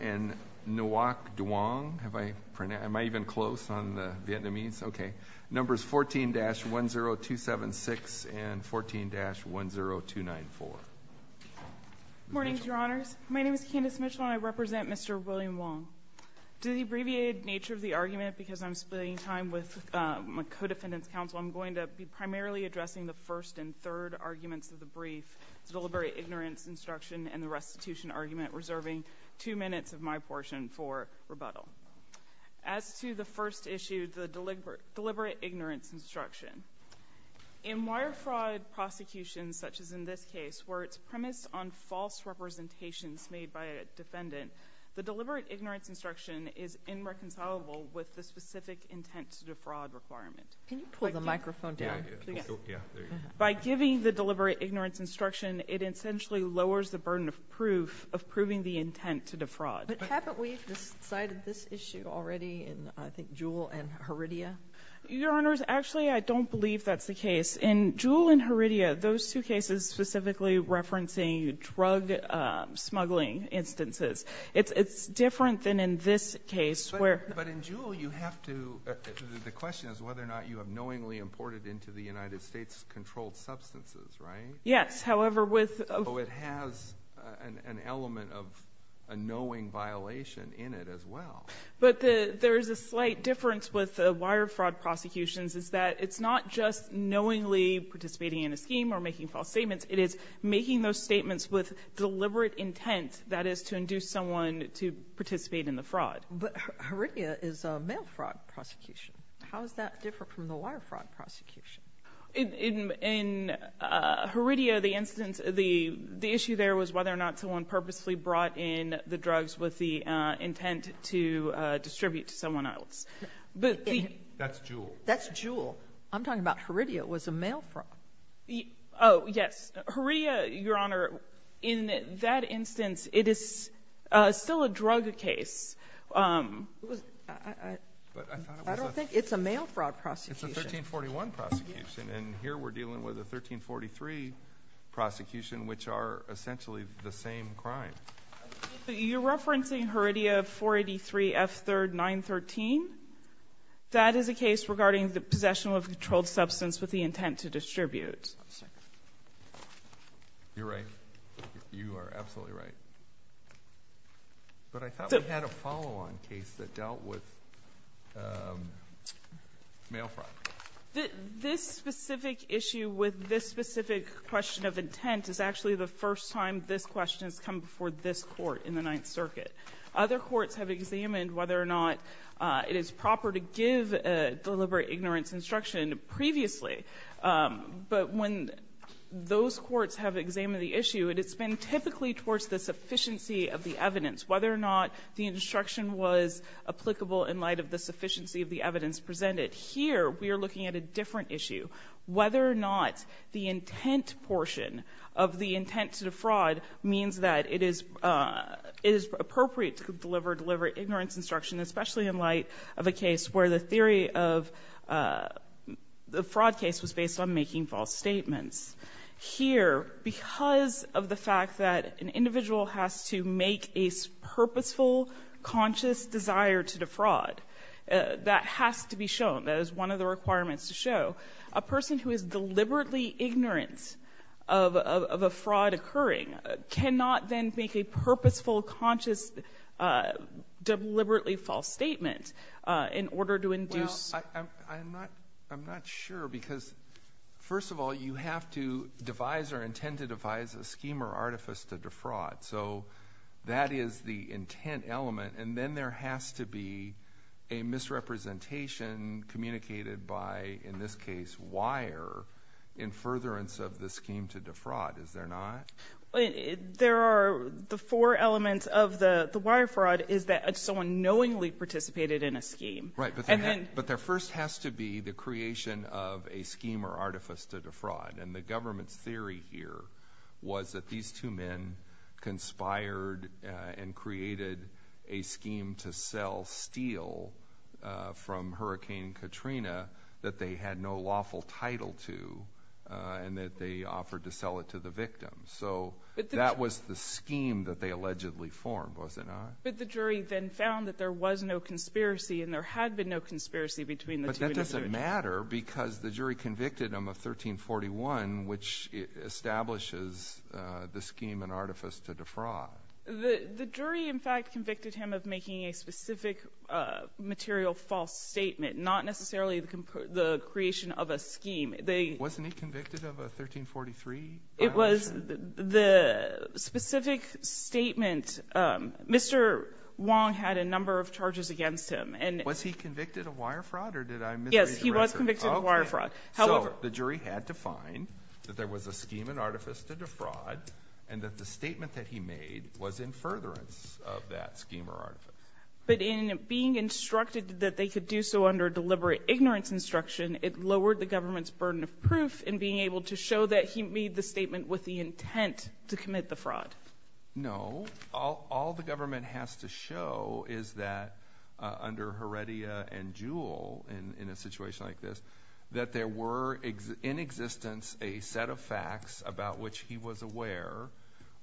and Nguoc Duong, numbers 14-10276 and 14-10294. Morning, Your Honors. My name is Candace Mitchell, and I represent Mr. William Wong. To the abbreviated nature of the argument, because I'm splitting time with my co-defendants counsel, I'm going to be primarily addressing the first and third arguments of the brief, the deliberate ignorance instruction and the restitution argument, reserving two minutes of my portion for rebuttal. As to the first issue, the deliberate ignorance instruction, in wire fraud prosecutions, such as in this case, where it's premised on false representations made by a defendant, the deliberate ignorance instruction is irreconcilable with the specific intent to defraud requirement. Can you pull the microphone down? By giving the deliberate ignorance instruction, it essentially lowers the burden of proof, of proving the intent to defraud. But haven't we decided this issue already in, I think, Jewell and Heredia? Your Honors, actually, I don't believe that's the case. In Jewell and Heredia, those two cases specifically referencing drug smuggling instances, it's different than in this case, where- But in Jewell, you have to, the question is whether or not you have knowingly imported into the United States controlled substances, right? Yes, however, with- So it has an element of a knowing violation in it as well. But there's a slight difference with wire fraud prosecutions, is that it's not just participating in a scheme or making false statements, it is making those statements with deliberate intent, that is to induce someone to participate in the fraud. But Heredia is a mail fraud prosecution. How does that differ from the wire fraud prosecution? In Heredia, the issue there was whether or not someone purposely brought in the drugs with the intent to distribute to someone else. But the- That's Jewell. That's Jewell. I'm talking about Heredia, it was a mail fraud. Oh, yes, Heredia, Your Honor, in that instance, it is still a drug case. I don't think it's a mail fraud prosecution. It's a 1341 prosecution, and here we're dealing with a 1343 prosecution, which are essentially the same crime. You're referencing Heredia 483 F3rd 913? That is a case regarding the possession of a controlled substance with the intent to distribute. You're right. You are absolutely right. But I thought we had a follow-on case that dealt with mail fraud. This specific issue with this specific question of intent is actually the first time this question's come before this court in the Ninth Circuit. Other courts have examined whether or not it is proper to deliver ignorance instruction previously. But when those courts have examined the issue, it has been typically towards the sufficiency of the evidence, whether or not the instruction was applicable in light of the sufficiency of the evidence presented. Here, we are looking at a different issue. Whether or not the intent portion of the intent to defraud means that it is appropriate to deliver ignorance instruction, especially in light of a case where the theory of the fraud case was based on making false statements. Here, because of the fact that an individual has to make a purposeful, conscious desire to defraud, that has to be shown, that is one of the requirements to show, a person who is deliberately ignorant of a fraud occurring cannot then make a purposeful, conscious, deliberately false statement in order to induce. Well, I'm not sure because first of all, you have to devise or intend to devise a scheme or artifice to defraud. So that is the intent element. And then there has to be a misrepresentation communicated by, in this case, wire in furtherance of the scheme to defraud. Is there not? There are the four elements of the wire fraud is that someone knowingly participated in a scheme. Right, but there first has to be the creation of a scheme or artifice to defraud. And the government's theory here was that these two men conspired and created a scheme to sell steel from Hurricane Katrina that they had no lawful title to and that they offered to sell it to the victim. So that was the scheme that they allegedly formed, was it not? But the jury then found that there was no conspiracy and there had been no conspiracy between the two individuals. But that doesn't matter because the jury convicted him of 1341, which establishes the scheme and artifice to defraud. The jury, in fact, convicted him of making a specific material false statement, not necessarily the creation of a scheme. Wasn't he convicted of a 1343 violation? It was the specific statement. Mr. Wong had a number of charges against him. Was he convicted of wire fraud or did I misread? Yes, he was convicted of wire fraud. However, the jury had to find that there was a scheme and artifice to defraud and that the statement that he made was in furtherance of that scheme or artifice. But in being instructed that they could do so under deliberate ignorance instruction, it lowered the government's burden of proof in being able to show that he made the statement with the intent to commit the fraud. No, all the government has to show is that under Heredia and Jewell, in a situation like this, that there were in existence a set of facts about which he was aware,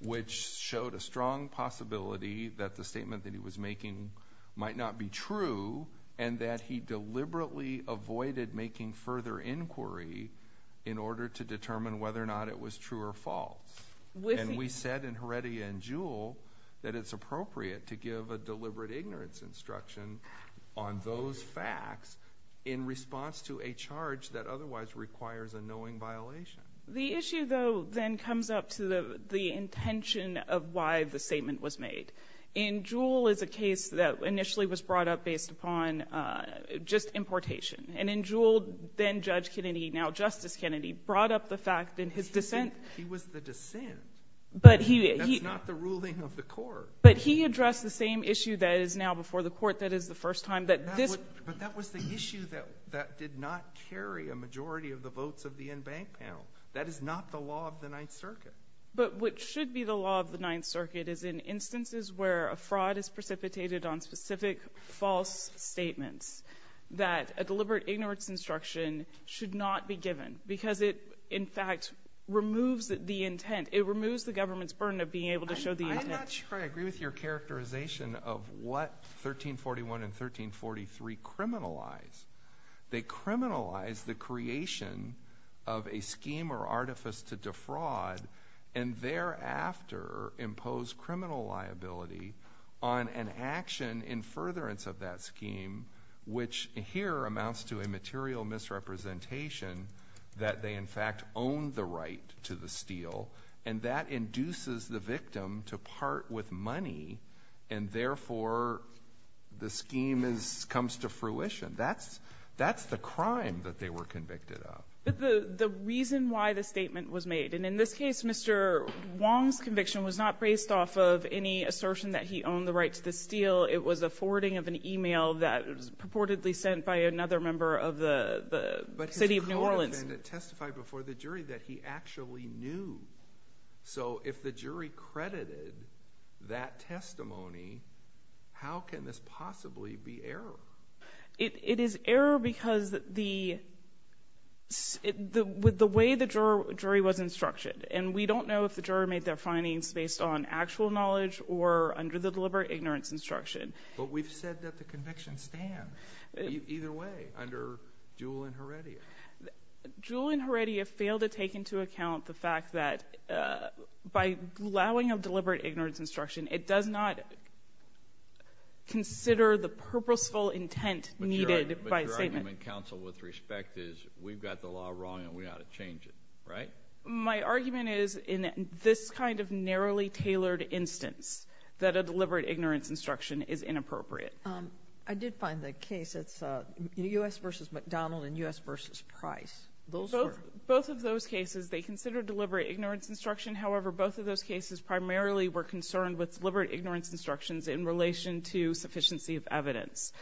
which showed a strong possibility that the statement that he was making might not be true and that he deliberately avoided making further inquiry in order to determine whether or not it was true or false. And we said in Heredia and Jewell that it's appropriate to give a deliberate ignorance instruction on those facts in response to a charge that otherwise requires a knowing violation. The issue, though, then comes up to the intention of why the statement was made. In Jewell is a case that initially was brought up based upon just importation. And in Jewell, then Judge Kennedy, now Justice Kennedy, brought up the fact that his dissent. He was the dissent. But he. That's not the ruling of the court. But he addressed the same issue that is now before the court that is the first time that this. But that was the issue that did not carry a majority of the votes of the in-bank panel. That is not the law of the Ninth Circuit. But what should be the law of the Ninth Circuit is in instances where a fraud is precipitated on specific false statements that a deliberate ignorance instruction should not be given because it, in fact, removes the intent. It removes the government's burden of being able to show the intent. I'm not sure I agree with your characterization of what 1341 and 1343 criminalize. They criminalize the creation of a scheme or artifice to defraud and thereafter impose criminal liability on an action in furtherance of that scheme, which here amounts to a material misrepresentation that they, in fact, own the right to the steal. And that induces the victim to part with money and therefore the scheme comes to fruition. That's the crime that they were convicted of. The reason why the statement was made, and in this case, Mr. Wong's conviction was not based off of any assertion that he owned the right to the steal. It was a forwarding of an email that was purportedly sent by another member of the city of New Orleans. But his co-defendant testified before the jury that he actually knew. So if the jury credited that testimony, how can this possibly be error? It is error because the way the jury was instructed, and we don't know if the jury made their findings based on actual knowledge or under the deliberate ignorance instruction. But we've said that the convictions stand. Either way, under Jewell and Heredia. Jewell and Heredia failed to take into account the fact that by allowing a deliberate ignorance instruction it does not consider the purposeful intent needed by a statement. But your argument, counsel, with respect is we've got the law wrong and we ought to change it, right? My argument is in this kind of narrowly tailored instance that a deliberate ignorance instruction is inappropriate. I did find the case, it's U.S. versus McDonald and U.S. versus Price. Those were? Both of those cases, they considered deliberate ignorance instruction. However, both of those cases primarily were concerned with deliberate ignorance instructions in relation to sufficiency of evidence.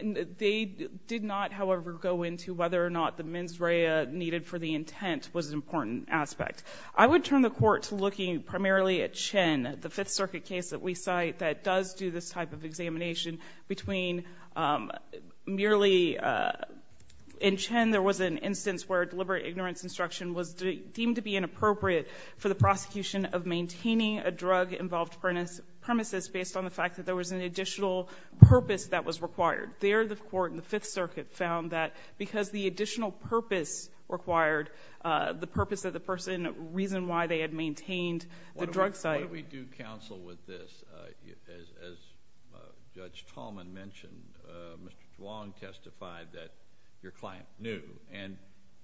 They did not, however, go into whether or not the mens rea needed for the intent was an important aspect. I would turn the court to looking primarily at Chen, the Fifth Circuit case that we cite that does do this type of examination between merely, in Chen there was an instance where deliberate ignorance instruction was deemed to be inappropriate for the prosecution of maintaining a drug-involved premises based on the fact that there was an additional purpose that was required. There the court in the Fifth Circuit found that because the additional purpose required, the purpose that the person reasoned why they had maintained the drug site. What do we do, counsel, with this? As Judge Tallman mentioned, Mr. Zhuang testified that your client knew, and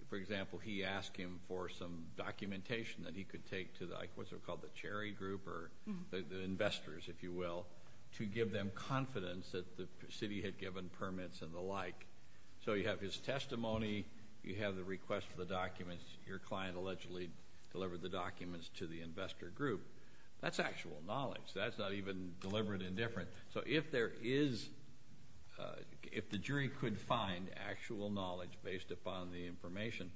for example, he asked him for some documentation that he could take to what's called the Cherry Group or the investors, if you will, to give them confidence that the city had given permits and the like. So you have his testimony, you have the request for the documents, your client allegedly delivered the documents to the investor group. That's actual knowledge, that's not even deliberate indifference. So if there is, if the jury could find actual knowledge based upon the information,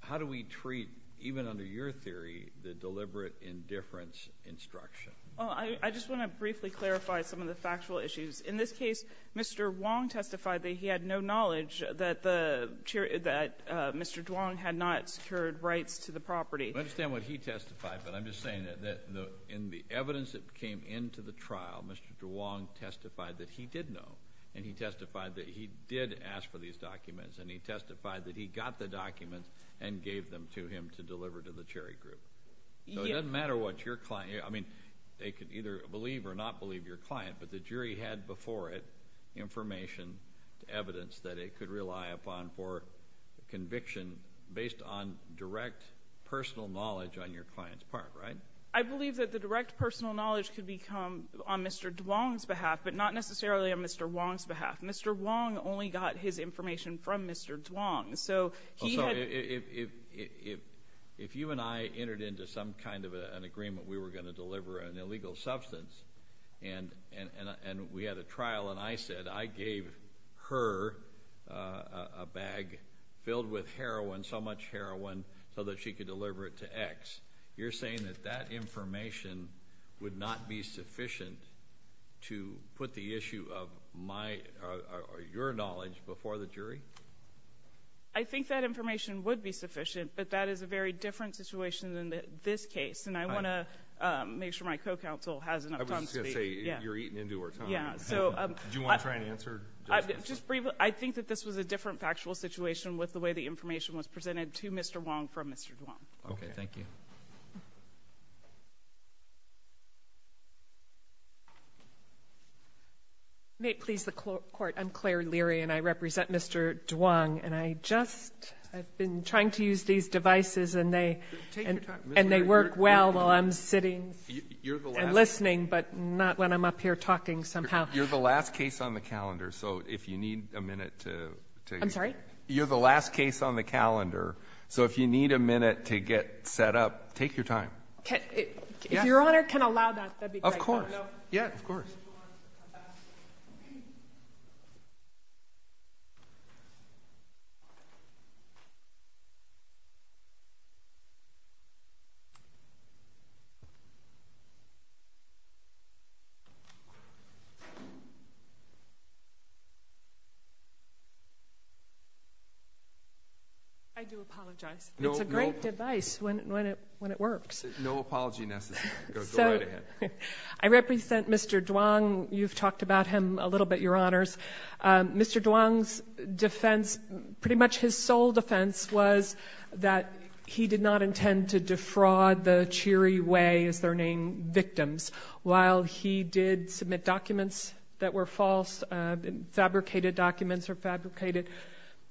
how do we treat, even under your theory, the deliberate indifference instruction? Well, I just wanna briefly clarify some of the factual issues. In this case, Mr. Zhuang testified that he had no knowledge that Mr. Zhuang had not secured rights to the property. I understand what he testified, but I'm just saying that in the evidence that came into the trial, Mr. Zhuang testified that he did know, and he testified that he did ask for these documents, and he testified that he got the documents and gave them to him to deliver to the Cherry Group. So it doesn't matter what your client, I mean, they could either believe or not believe your client, but the jury had before it information, evidence that it could rely upon for conviction based on direct personal knowledge on your client's part, right? I believe that the direct personal knowledge could become on Mr. Zhuang's behalf, but not necessarily on Mr. Wang's behalf. Mr. Wang only got his information from Mr. Zhuang, so he had- Also, if you and I entered into some kind of an agreement, we were gonna deliver an illegal substance, and we had a trial, and I said I gave her a bag filled with heroin, so much heroin, so that she could deliver it to X. You're saying that that information would not be sufficient to put the issue of your knowledge before the jury? I think that information would be sufficient, but that is a very different situation than this case, and I wanna make sure my co-counsel has enough time to be- I was just gonna say, you're eating into our time. Do you wanna try and answer? Just briefly, I think that this was a different factual situation with the way the information was presented to Mr. Wang from Mr. Zhuang. Okay, thank you. May it please the court, I'm Claire Leary, and I represent Mr. Zhuang, and I just, I've been trying to use these devices, and they work well while I'm sitting and listening, but not when I'm up here talking somehow. You're the last case on the calendar, so if you need a minute to- I'm sorry? You're the last case on the calendar, so if you need a minute to get set up, take your time. If Your Honor can allow that, that'd be great. Of course, yeah, of course. Thank you. I do apologize. It's a great device when it works. No apology necessary, go right ahead. I represent Mr. Zhuang. You've talked about him a little bit, Your Honors. Mr. Zhuang's defense, pretty much his sole defense, was that he did not intend to defraud the Cheery Way, as their name victims. While he did submit documents that were false, fabricated documents or fabricated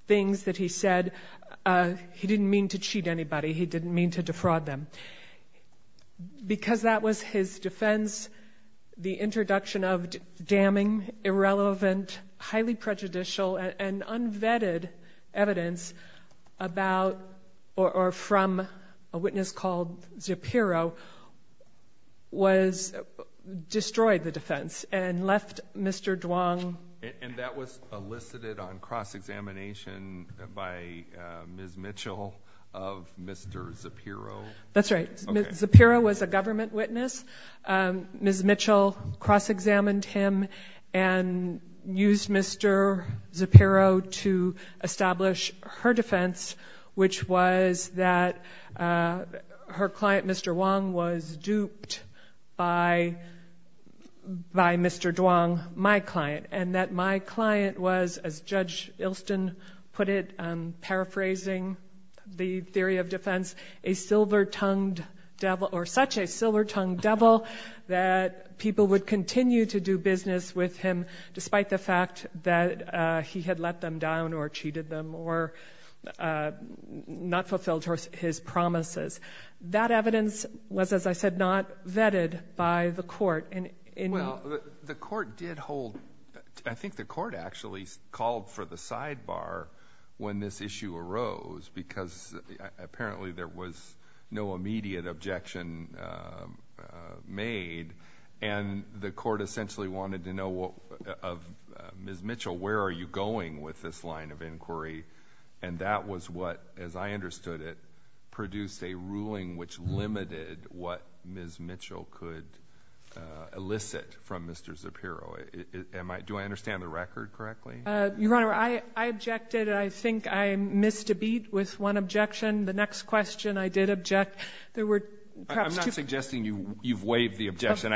things that he said, he didn't mean to cheat anybody. He didn't mean to defraud them. Because that was his defense, the introduction of damning, irrelevant, highly prejudicial, and unvetted evidence about, or from a witness called Zapiro, was, destroyed the defense and left Mr. Zhuang. And that was elicited on cross-examination by Ms. Mitchell of Mr. Zapiro? That's right. Zapiro was a government witness. Ms. Mitchell cross-examined him and used Mr. Zapiro to establish her defense, which was that her client, Mr. Wang, was duped by Mr. Zhuang, my client. And that my client was, as Judge Ilston put it, paraphrasing the theory of defense, a silver-tongued devil, or such a silver-tongued devil, that people would continue to do business with him despite the fact that he had let them down or cheated them or not fulfilled his promises. That evidence was, as I said, not vetted by the court. Well, the court did hold, I think the court actually called for the sidebar when this issue arose, because apparently there was no immediate objection made, and the court essentially wanted to know of Ms. Mitchell, where are you going with this line of inquiry? And that was what, as I understood it, produced a ruling which limited what Ms. Mitchell could elicit from Mr. Zapiro. Do I understand the record correctly? Your Honor, I objected. I think I missed a beat with one objection. The next question, I did object. There were perhaps two- I'm not suggesting you've waived the objection,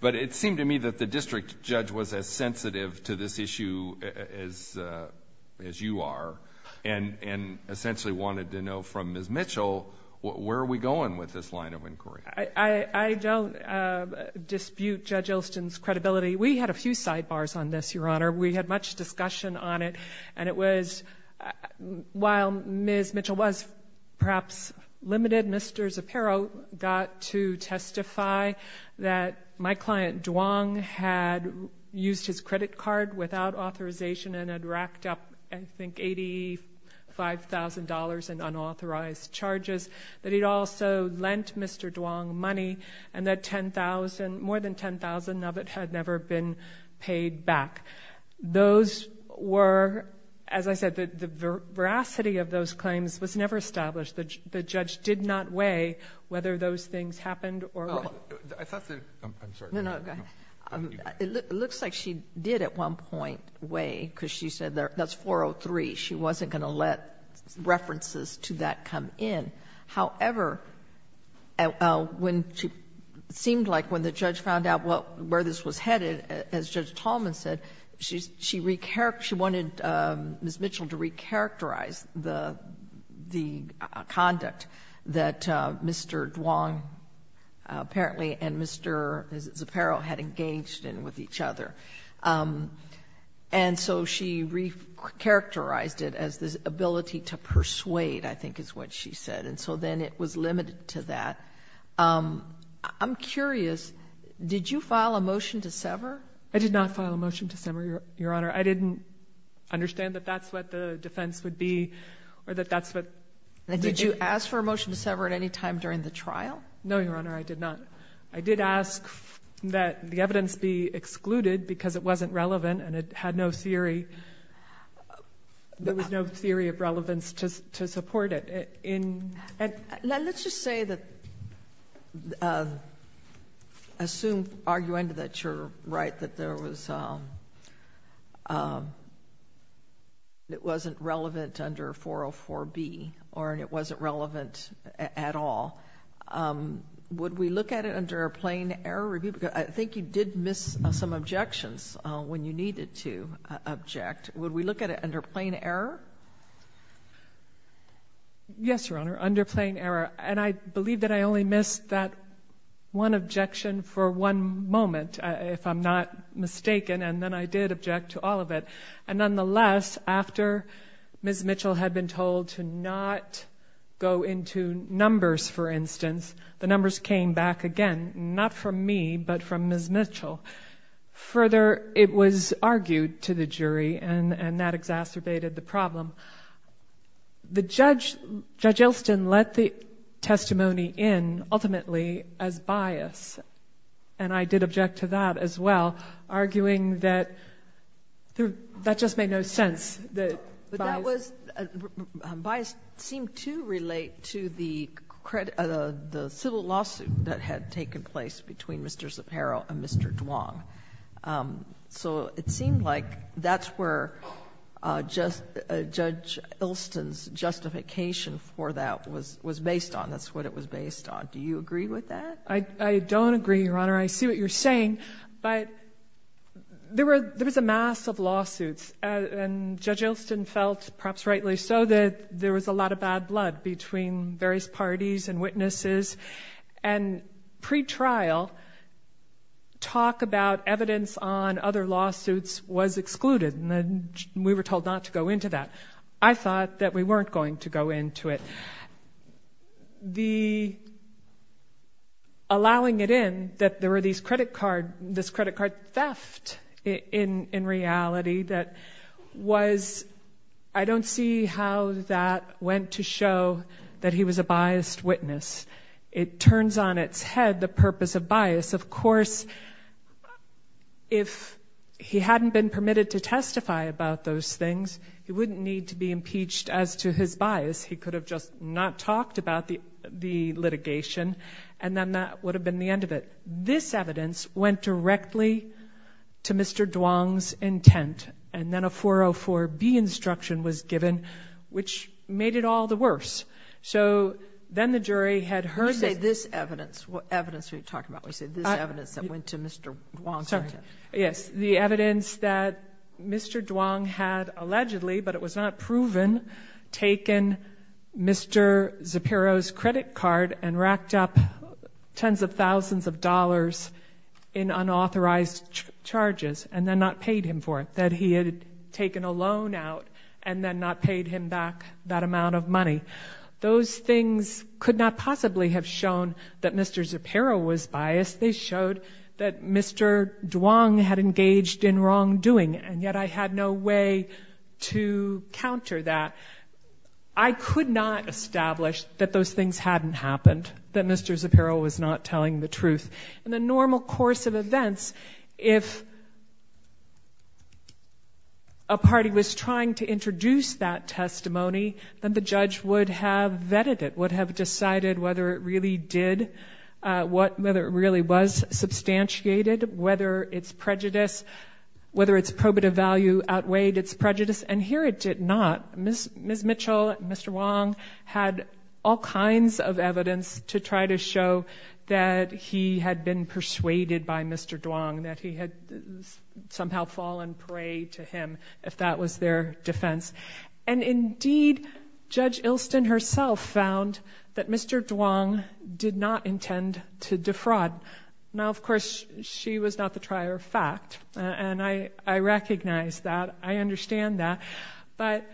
but it seemed to me that the district judge was as sensitive to this issue as you are, and essentially wanted to know from Ms. Mitchell, where are we going with this line of inquiry? I don't dispute Judge Ilston's credibility. We had a few sidebars on this, Your Honor. We had much discussion on it, and it was, while Ms. Mitchell was perhaps limited, Mr. Zapiro got to testify that my client, Duong, had used his credit card without authorization and had racked up, I think, $85,000 in unauthorized charges, that he'd also lent Mr. Duong money, and that 10,000, more than 10,000 of it had never been paid back. Those were, as I said, the veracity of those claims was never established. The judge did not weigh whether those things happened or not. I thought that, I'm sorry. No, no, go ahead. It looks like she did at one point weigh, because she said that's 403. She wasn't gonna let references to that come in. However, it seemed like when the judge found out where this was headed, as Judge Tallman said, she wanted Ms. Mitchell to recharacterize the conduct that Mr. Duong, apparently, and Mr. Zapiro had engaged in with each other. And so she recharacterized it as this ability to persuade, I think is what she said. And so then it was limited to that. I'm curious, did you file a motion to sever? I did not file a motion to sever, Your Honor. I didn't understand that that's what the defense would be, or that that's what the- Did you ask for a motion to sever at any time during the trial? No, Your Honor, I did not. I did ask that the evidence be excluded because it wasn't relevant, and it had no theory. There was no theory of relevance to support it. Let's just say that, assume, argue into that you're right, that there was, that it wasn't relevant under 404B, or it wasn't relevant at all. Would we look at it under a plain error review? I think you did miss some objections when you needed to object. Would we look at it under plain error? Yes, Your Honor, under plain error. And I believe that I only missed that one objection for one moment, if I'm not mistaken, and then I did object to all of it. And nonetheless, after Ms. Mitchell had been told to not go into numbers, for instance, the numbers came back again, not from me, but from Ms. Mitchell. Further, it was argued to the jury, and that exacerbated the problem. The judge, Judge Elston, let the testimony in, ultimately, as bias. And I did object to that as well, arguing that that just made no sense, that bias. But that was, bias seemed to relate to the civil lawsuit that had taken place between Mr. Zapparo and Mr. Duong. So it seemed like that's where Judge Elston's justification for that was based on, that's what it was based on. Do you agree with that? I don't agree, Your Honor. I see what you're saying, but there was a mass of lawsuits, and Judge Elston felt, perhaps rightly so, that there was a lot of bad blood between various parties and witnesses. And pre-trial, talk about evidence on other lawsuits was excluded, and we were told not to go into that. I thought that we weren't going to go into it. The, allowing it in, that there were these credit card, this credit card theft, in reality, that was, I don't see how that went to show that he was a biased witness. It turns on its head, the purpose of bias. Of course, if he hadn't been permitted to testify about those things, he wouldn't need to be impeached as to his bias. He could have just not talked about the litigation, and then that would have been the end of it. This evidence went directly to Mr. Duong's intent, and then a 404-B instruction was given, which made it all the worse. So, then the jury had heard this. You say this evidence, what evidence are you talking about? You say this evidence that went to Mr. Duong's intent. Yes, the evidence that Mr. Duong had allegedly, but it was not proven, taken Mr. Zepero's credit card, and racked up tens of thousands of dollars in unauthorized charges, and then not paid him for it, that he had taken a loan out, and then not paid him back that amount of money. Those things could not possibly have shown that Mr. Zepero was biased. They showed that Mr. Duong had engaged in wrongdoing, and yet I had no way to counter that. I could not establish that those things hadn't happened, that Mr. Zepero was not telling the truth. In the normal course of events, if a party was trying to introduce that testimony, then the judge would have vetted it, would have decided whether it really did, whether it really was substantiated, whether its prejudice, whether its probative value outweighed its prejudice, and here it did not. Ms. Mitchell, Mr. Wong had all kinds of evidence to try to show that he had been persuaded by Mr. Duong, that he had somehow fallen prey to him, if that was their defense. And indeed, Judge Ilston herself found that Mr. Duong did not intend to defraud. Now, of course, she was not the trier of fact, and I recognize that, I understand that, but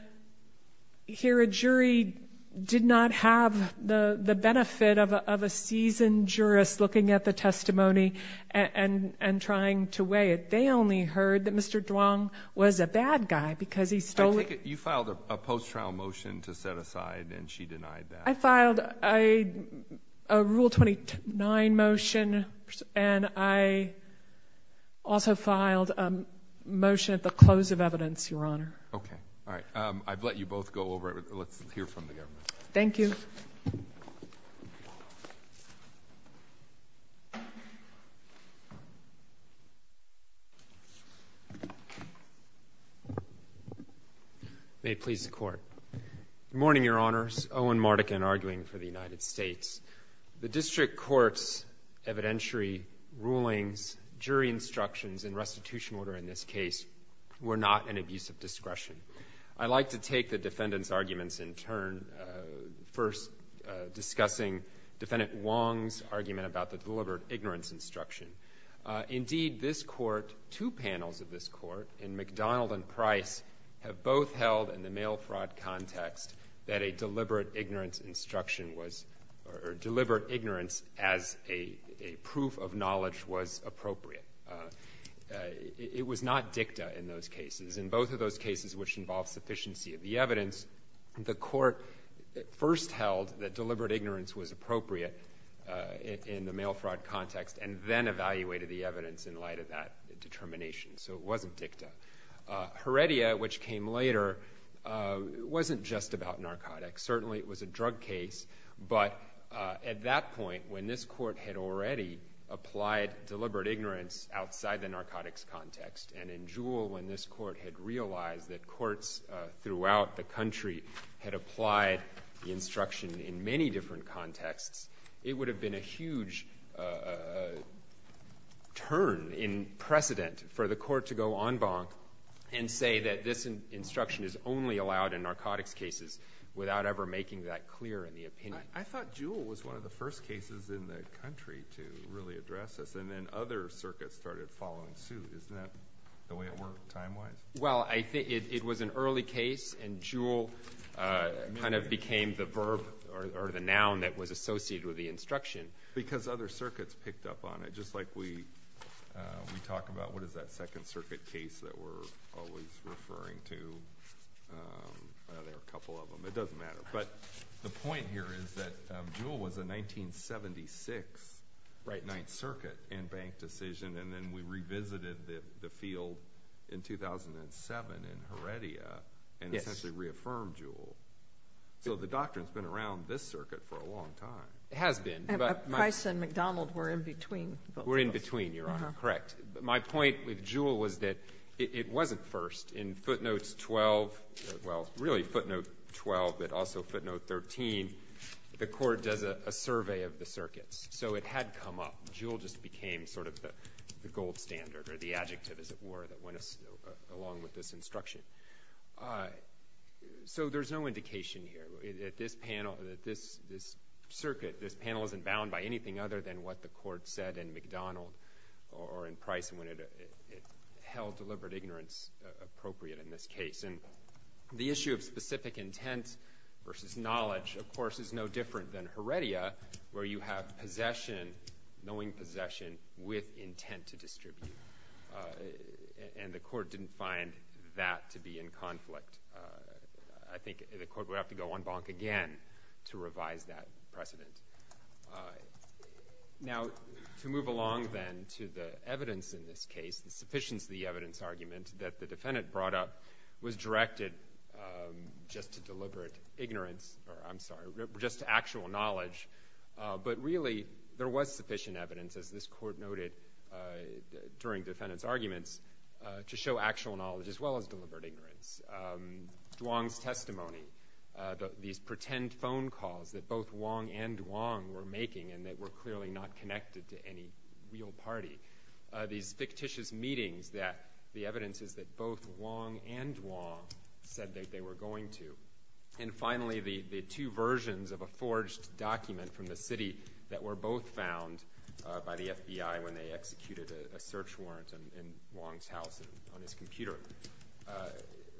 here a jury did not have the benefit of a seasoned jurist looking at the testimony and trying to weigh it. They only heard that Mr. Duong was a bad guy because he stole it. You filed a post-trial motion to set aside, and she denied that. I filed a Rule 29 motion, and I also filed a motion at the close of evidence, Your Honor. Okay, all right. I'd let you both go over it. Let's hear from the government. Thank you. May it please the Court. Good morning, Your Honors. Owen Mardekin, arguing for the United States. The district court's evidentiary rulings, jury instructions, and restitution order in this case were not an abuse of discretion. I'd like to take the defendant's arguments in turn, first discussing Defendant Duong's argument about the deliberate ignorance instruction. Indeed, this court, two panels of this court, in McDonald and Price, have both held in the mail fraud context that a deliberate ignorance instruction was, or deliberate ignorance as a proof of knowledge was appropriate. It was not dicta in those cases. In both of those cases, which involved sufficiency of the evidence, the court first held that deliberate ignorance was appropriate in the mail fraud context, and then evaluated the evidence in light of that determination. So it wasn't dicta. Heredia, which came later, wasn't just about narcotics. Certainly it was a drug case, but at that point, when this court had already applied deliberate ignorance outside the narcotics context, and in Jewell, when this court had realized that courts throughout the country had applied the instruction in many different contexts, it would have been a huge turn in precedent for the court to go en banc and say that this instruction is only allowed in narcotics cases without ever making that clear in the opinion. I thought Jewell was one of the first cases in the country to really address this, and then other circuits started following suit. Isn't that the way it worked, time-wise? Well, it was an early case, and Jewell kind of became the verb, or the noun that was associated with the instruction. Because other circuits picked up on it, just like we talk about, what is that Second Circuit case that we're always referring to? Well, there are a couple of them. It doesn't matter. But the point here is that Jewell was a 1976 Ninth Circuit en banc decision, and then we revisited the field in 2007 in Heredia, and essentially reaffirmed Jewell. So the doctrine's been around this circuit for a long time. It has been, but my- We're in between, Your Honor. Correct. My point with Jewell was that it wasn't first. In footnotes 12, well, really footnote 12, but also footnote 13, the court does a survey of the circuits. So it had come up. Jewell just became sort of the gold standard, or the adjective, as it were, that went along with this instruction. So there's no indication here that this circuit, this panel isn't bound by anything other than what the court said in MacDonald or in Price when it held deliberate ignorance appropriate in this case. And the issue of specific intent versus knowledge, of course, is no different than Heredia, where you have possession, knowing possession with intent to distribute. And the court didn't find that to be in conflict. I think the court would have to go en banc again to revise that precedent. Now, to move along then to the evidence in this case, the sufficiency of the evidence argument that the defendant brought up was directed just to deliberate ignorance, or I'm sorry, just to actual knowledge. But really, there was sufficient evidence, as this court noted during the defendant's arguments, to show actual knowledge as well as deliberate ignorance. Duong's testimony, these pretend phone calls that both Duong and Duong were making and that were clearly not connected to any real party. These fictitious meetings that the evidence is that both Duong and Duong said that they were going to. And finally, the two versions of a forged document from the city that were both found by the FBI when they executed a search warrant in Duong's house on his computer.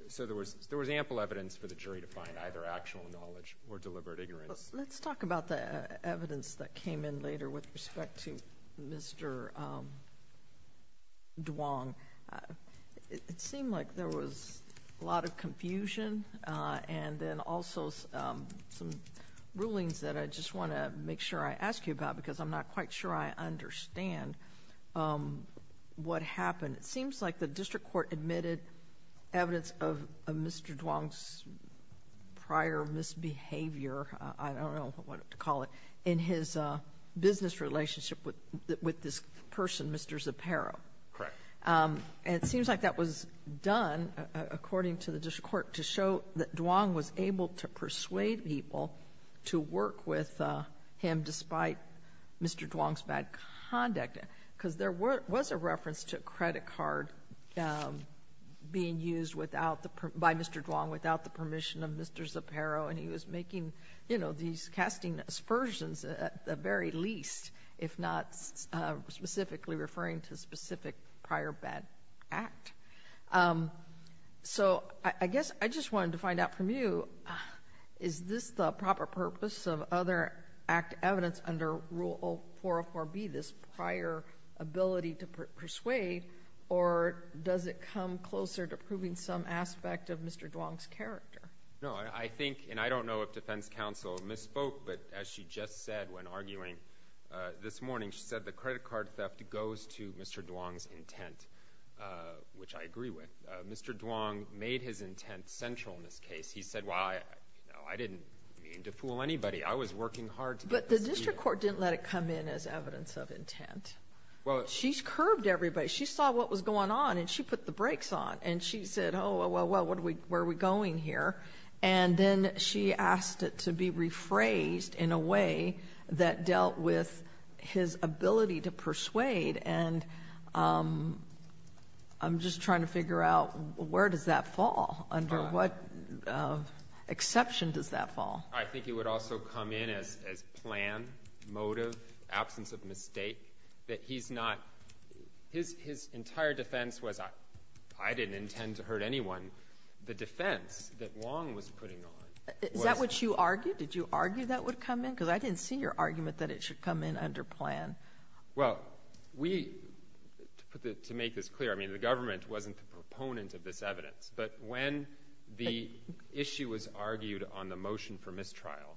So there was ample evidence for the jury to find either actual knowledge or deliberate ignorance. Let's talk about the evidence that came in later with respect to Mr. Duong. It seemed like there was a lot of confusion and then also some rulings that I just wanna make sure I ask you about because I'm not quite sure I understand what happened. It seems like the district court admitted evidence of Mr. Duong's prior misbehavior, I don't know what to call it, in his business relationship with this person, Mr. Zapparo. Correct. And it seems like that was done, according to the district court, to show that Duong was able to persuade people to work with him despite Mr. Duong's bad conduct. Because there was a reference to a credit card being used by Mr. Duong without the permission of Mr. Zapparo and he was making these casting aspersions at the very least, if not specifically referring to specific prior bad act. So I guess I just wanted to find out from you, is this the proper purpose of other act evidence under Rule 404B, this prior ability to persuade, or does it come closer to proving some aspect of Mr. Duong's character? No, I think, and I don't know if defense counsel misspoke, but as she just said when arguing this morning, she said the credit card theft goes to Mr. Duong's intent, which I agree with. Mr. Duong made his intent central in this case. He said, well, I didn't mean to fool anybody, I was working hard to get this to be. But the district court didn't let it come in as evidence of intent. Well. She's curved everybody. She saw what was going on and she put the brakes on and she said, oh, well, where are we going here? And then she asked it to be rephrased in a way that dealt with his ability to persuade and I'm just trying to figure out where does that fall under what exception does that fall? I think it would also come in as plan, motive, absence of mistake, that he's not, his entire defense was, I didn't intend to hurt anyone. The defense that Duong was putting on. Is that what you argued? Did you argue that would come in? Because I didn't see your argument that it should come in under plan. Well, we, to make this clear, I mean, the government wasn't the proponent of this evidence but when the issue was argued on the motion for mistrial,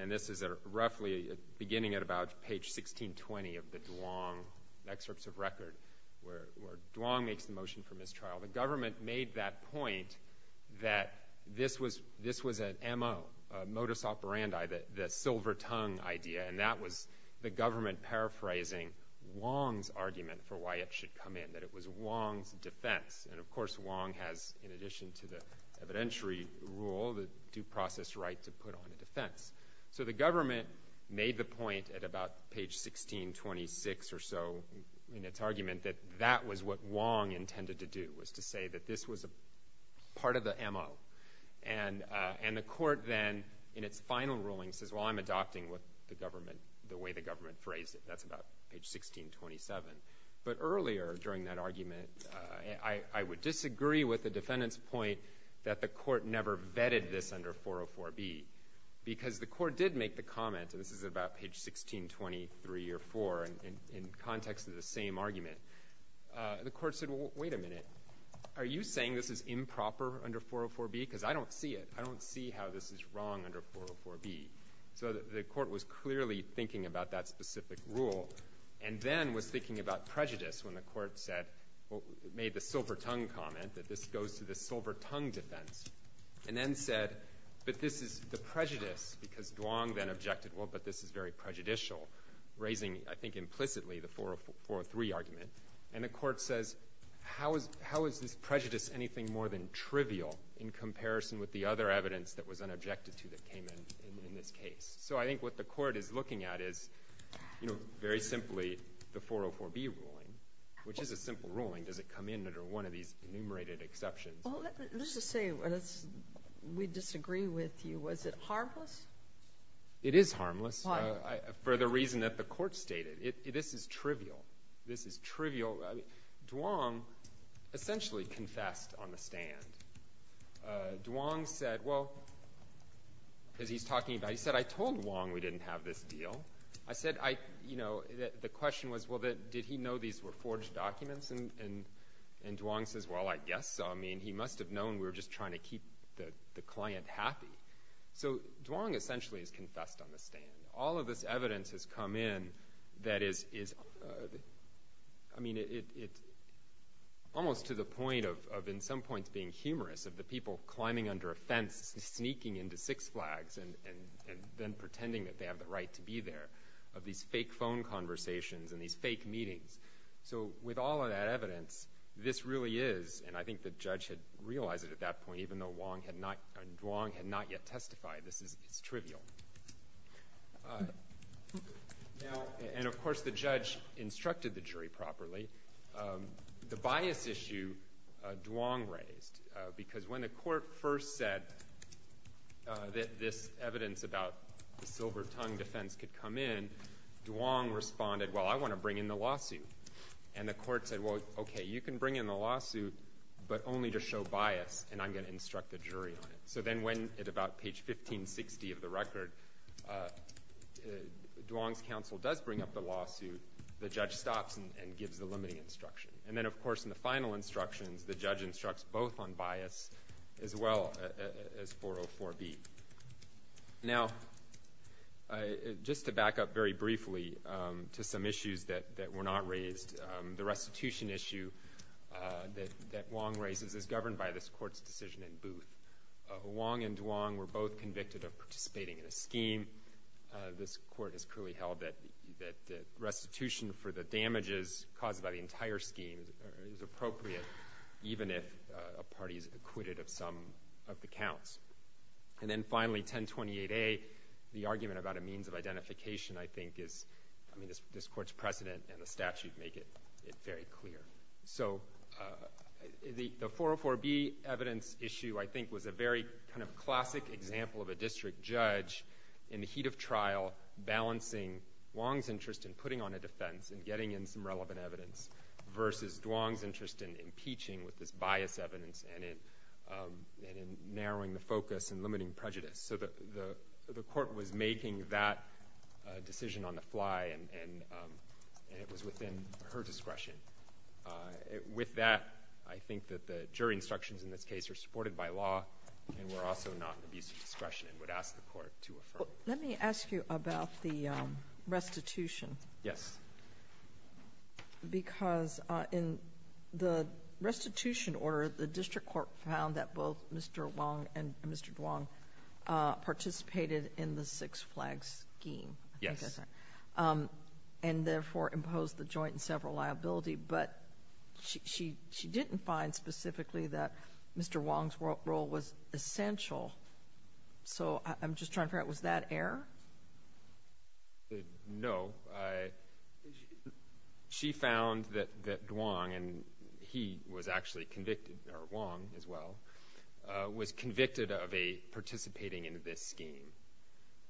and this is roughly beginning at about page 1620 of the Duong excerpts of record where Duong makes the motion for mistrial, the government made that point that this was an MO, a modus operandi, the silver tongue idea, and that was the government paraphrasing Duong's argument for why it should come in, that it was Duong's defense and of course, Duong has, in addition to the evidentiary rule, the due process right to put on a defense. So the government made the point at about page 1626 or so in its argument that that was what Duong intended to do, was to say that this was a part of the MO. And the court then, in its final ruling, says, well, I'm adopting what the government, the way the government phrased it. That's about page 1627. But earlier during that argument, I would disagree with the defendant's point that the court never vetted this under 404B because the court did make the comment, and this is about page 1623 or four in context of the same argument. The court said, well, wait a minute. Are you saying this is improper under 404B? Because I don't see it. I don't see how this is wrong under 404B. So the court was clearly thinking about that specific rule and then was thinking about prejudice when the court said, made the silver tongue comment that this goes to the silver tongue defense. And then said, but this is the prejudice because Duong then objected, well, but this is very prejudicial, raising, I think implicitly, the 403 argument. And the court says, how is this prejudice anything more than trivial in comparison with the other evidence that was unobjected to that came in in this case? So I think what the court is looking at is, you know, very simply, the 404B ruling, which is a simple ruling. Does it come in under one of these enumerated exceptions? Well, let's just say, let's, we disagree with you. Was it harmless? It is harmless. Why? For the reason that the court stated. This is trivial. This is trivial. Duong essentially confessed on the stand. Duong said, well, because he's talking about, he said, I told Duong we didn't have this deal. I said, I, you know, the question was, well, did he know these were forged documents and Duong says, well, I guess so. I mean, he must've known we were just trying to keep the client happy. So Duong essentially has confessed on the stand. All of this evidence has come in that is, I mean, it's almost to the point of, in some points, being humorous of the people climbing under a fence, sneaking into Six Flags and then pretending that they have the right to be there, of these fake phone conversations and these fake meetings. So with all of that evidence, this really is, and I think the judge had realized it at that point, even though Duong had not yet testified. This is, it's trivial. Now, and of course, the judge instructed the jury properly. The bias issue Duong raised, because when the court first said that this evidence about the silver tongue defense could come in, Duong responded, well, I wanna bring in the lawsuit. And the court said, well, okay, you can bring in the lawsuit but only to show bias and I'm gonna instruct the jury on it. So then when, at about page 1560 of the record, Duong's counsel does bring up the lawsuit, the judge stops and gives the limiting instruction. And then, of course, in the final instructions, the judge instructs both on bias as well as 404B. Now, just to back up very briefly, to some issues that were not raised, the restitution issue that Duong raises is governed by this court's decision in Booth. Duong and Duong were both convicted of participating in a scheme. This court has cruelly held that restitution for the damages caused by the entire scheme is appropriate, even if a party is acquitted of some of the counts. And then finally, 1028A, the argument about a means of identification, I think, I mean, this court's precedent and the statute make it very clear. So the 404B evidence issue, I think, was a very kind of classic example of a district judge in the heat of trial balancing Duong's interest in putting on a defense and getting in some relevant evidence versus Duong's interest in impeaching with this bias evidence and in narrowing the focus and limiting prejudice. So the court was making that decision on the fly and it was within her discretion. With that, I think that the jury instructions in this case are supported by law and were also not an abuse of discretion and would ask the court to affirm. Let me ask you about the restitution. Yes. Because in the restitution order, the district court found that both Mr. Duong and Mr. Duong participated in the Six Flags scheme. Yes. And therefore imposed the joint and several liability, but she didn't find specifically that Mr. Duong's role was essential. So I'm just trying to figure out, was that error? No. She found that Duong, and he was actually convicted, or Duong as well, was convicted of participating in this scheme.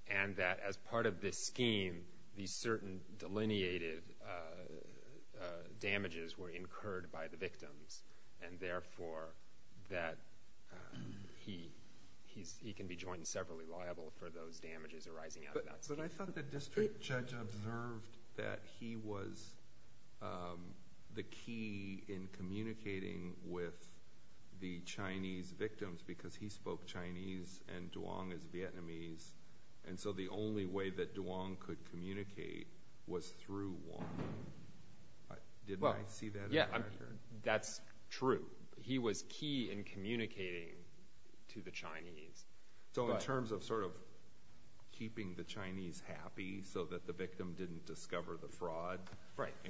And that as part of this scheme, these certain delineated damages were incurred by the victims. And therefore, that he can be joined and severally liable for those damages arising out of that. But I thought the district judge observed that he was the key in communicating with the Chinese victims, because he spoke Chinese, and Duong is Vietnamese. And so the only way that Duong could communicate was through Duong. Didn't I see that? Yeah, that's true. He was key in communicating to the Chinese. So in terms of sort of keeping the Chinese happy so that the victim didn't discover the fraud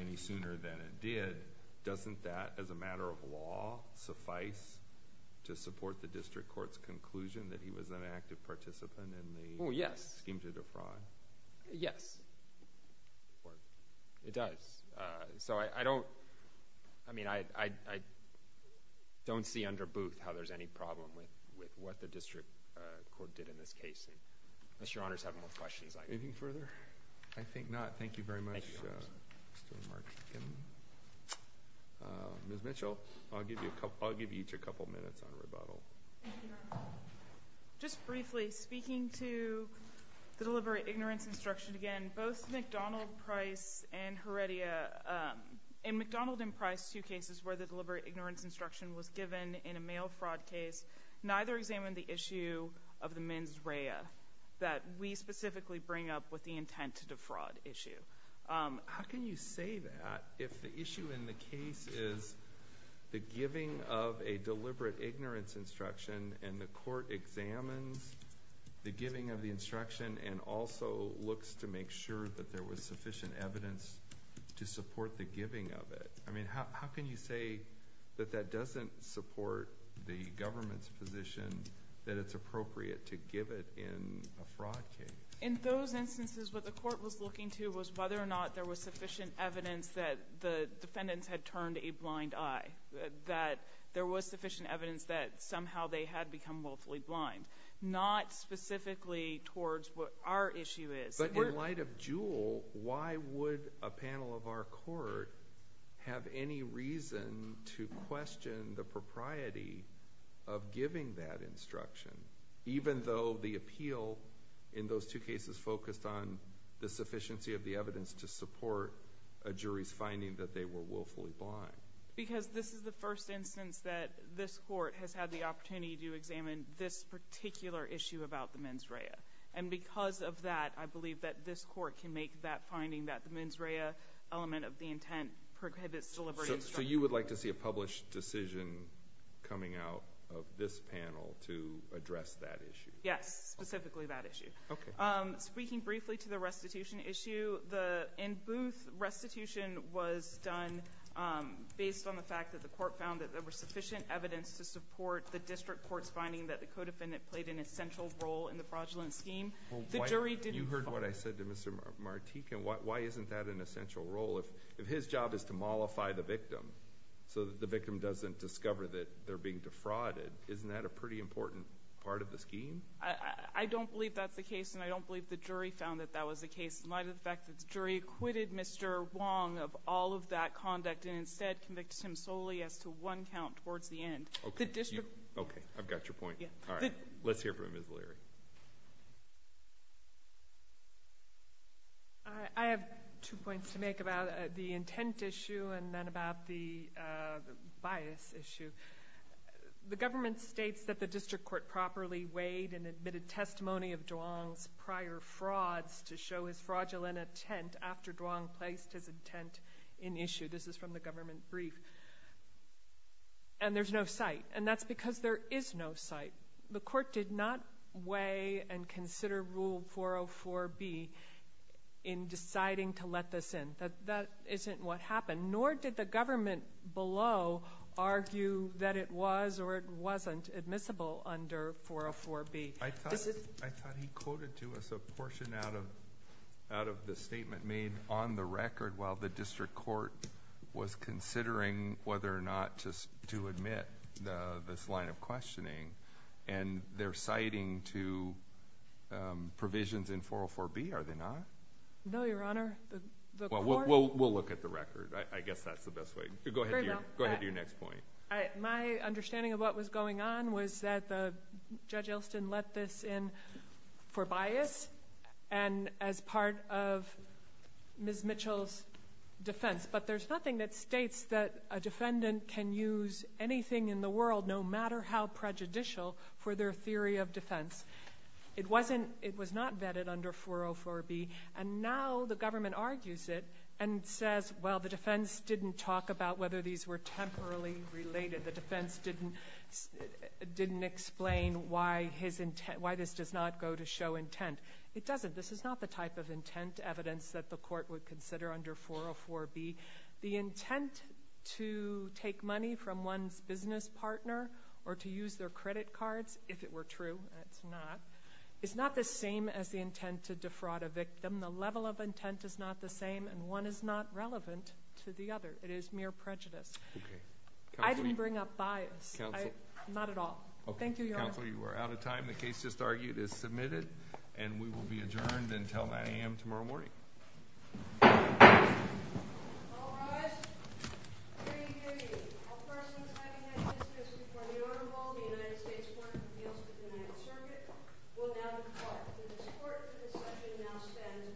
any sooner than it did, doesn't that, as a matter of law, suffice to support the district court's conclusion that he was an active participant in the scheme to the fraud? Yes. It does. So I don't, I mean, I don't see under boot how there's any problem with what the district court did in this case. Unless your honors have more questions. Anything further? I think not. Thank you very much. Ms. Mitchell, I'll give you each a couple minutes on rebuttal. Just briefly, speaking to the deliberate ignorance instruction again, both McDonald Price and Heredia, in McDonald and Price, two cases where the deliberate ignorance instruction was given in a mail fraud case, neither examined the issue of the mens rea that we specifically bring up with the intent to defraud issue. How can you say that if the issue in the case is the giving of a deliberate ignorance instruction and the court examines the giving of the instruction and also looks to make sure that there was sufficient evidence to support the giving of it? I mean, how can you say that that doesn't support the government's position that it's appropriate to give it in a fraud case? In those instances, what the court was looking to was whether or not there was sufficient evidence that the defendants had turned a blind eye, that there was sufficient evidence that somehow they had become willfully blind, not specifically towards what our issue is. But in light of Jewell, why would a panel of our court have any reason to question the propriety of giving that instruction, even though the appeal in those two cases focused on the sufficiency of the evidence to support a jury's finding that they were willfully blind? Because this is the first instance that this court has had the opportunity to examine this particular issue about the mens rea. And because of that, I believe that this court can make that finding that the mens rea element of the intent prohibits deliberate instruction. So you would like to see a published decision coming out of this panel to address that issue? Yes, specifically that issue. Speaking briefly to the restitution issue, in Booth, restitution was done based on the fact that the court found that there was sufficient evidence to support the district court's finding that the co-defendant played an essential role in the fraudulent scheme. The jury didn't. You heard what I said to Mr. Martique, and why isn't that an essential role? If his job is to mollify the victim so that the victim doesn't discover that they're being defrauded, isn't that a pretty important part of the scheme? I don't believe that's the case, and I don't believe the jury found that that was the case, in light of the fact that the jury acquitted Mr. Wong of all of that conduct, and instead convicted him solely as to one count towards the end. The district... Okay, I've got your point. All right, let's hear from Ms. Leary. I have two points to make about the intent issue, and then about the bias issue. The government states that the district court properly weighed and admitted testimony of Duong's prior frauds to show his fraudulent intent after Duong placed his intent in issue. This is from the government brief. And there's no cite, and that's because there is no cite. The court did not weigh and consider Rule 404B in deciding to let this in. That isn't what happened, nor did the government below argue that it was or it wasn't admissible under 404B. I thought he quoted to us a portion out of the statement made on the record while the district court was considering whether or not to admit this line of questioning, and they're citing to provisions in 404B, are they not? No, Your Honor, the court... We'll look at the record. I guess that's the best way. Go ahead to your next point. My understanding of what was going on was that Judge Elston let this in for bias and as part of Ms. Mitchell's defense, but there's nothing that states that a defendant can use anything in the world, no matter how prejudicial, for their theory of defense. It was not vetted under 404B, and now the government argues it and says, well, the defense didn't talk about whether these were temporarily related. The defense didn't explain why this does not go to show intent. It doesn't. This is not the type of intent evidence that the court would consider under 404B. The intent to take money from one's business partner or to use their credit cards, if it were true, and it's not, is not the same as the intent to defraud a victim. The level of intent is not the same, and one is not relevant to the other. It is mere prejudice. Okay. I didn't bring up bias. Counsel. Not at all. Thank you, Your Honor. Counsel, you are out of time. The case just argued is submitted, and we will be adjourned until 9 a.m. tomorrow morning. All rise. Hear ye, hear ye. All persons having had business before the Honorable, the United States Court of Appeals for the United Circuit, will now depart. This court for this session now stands adjourned.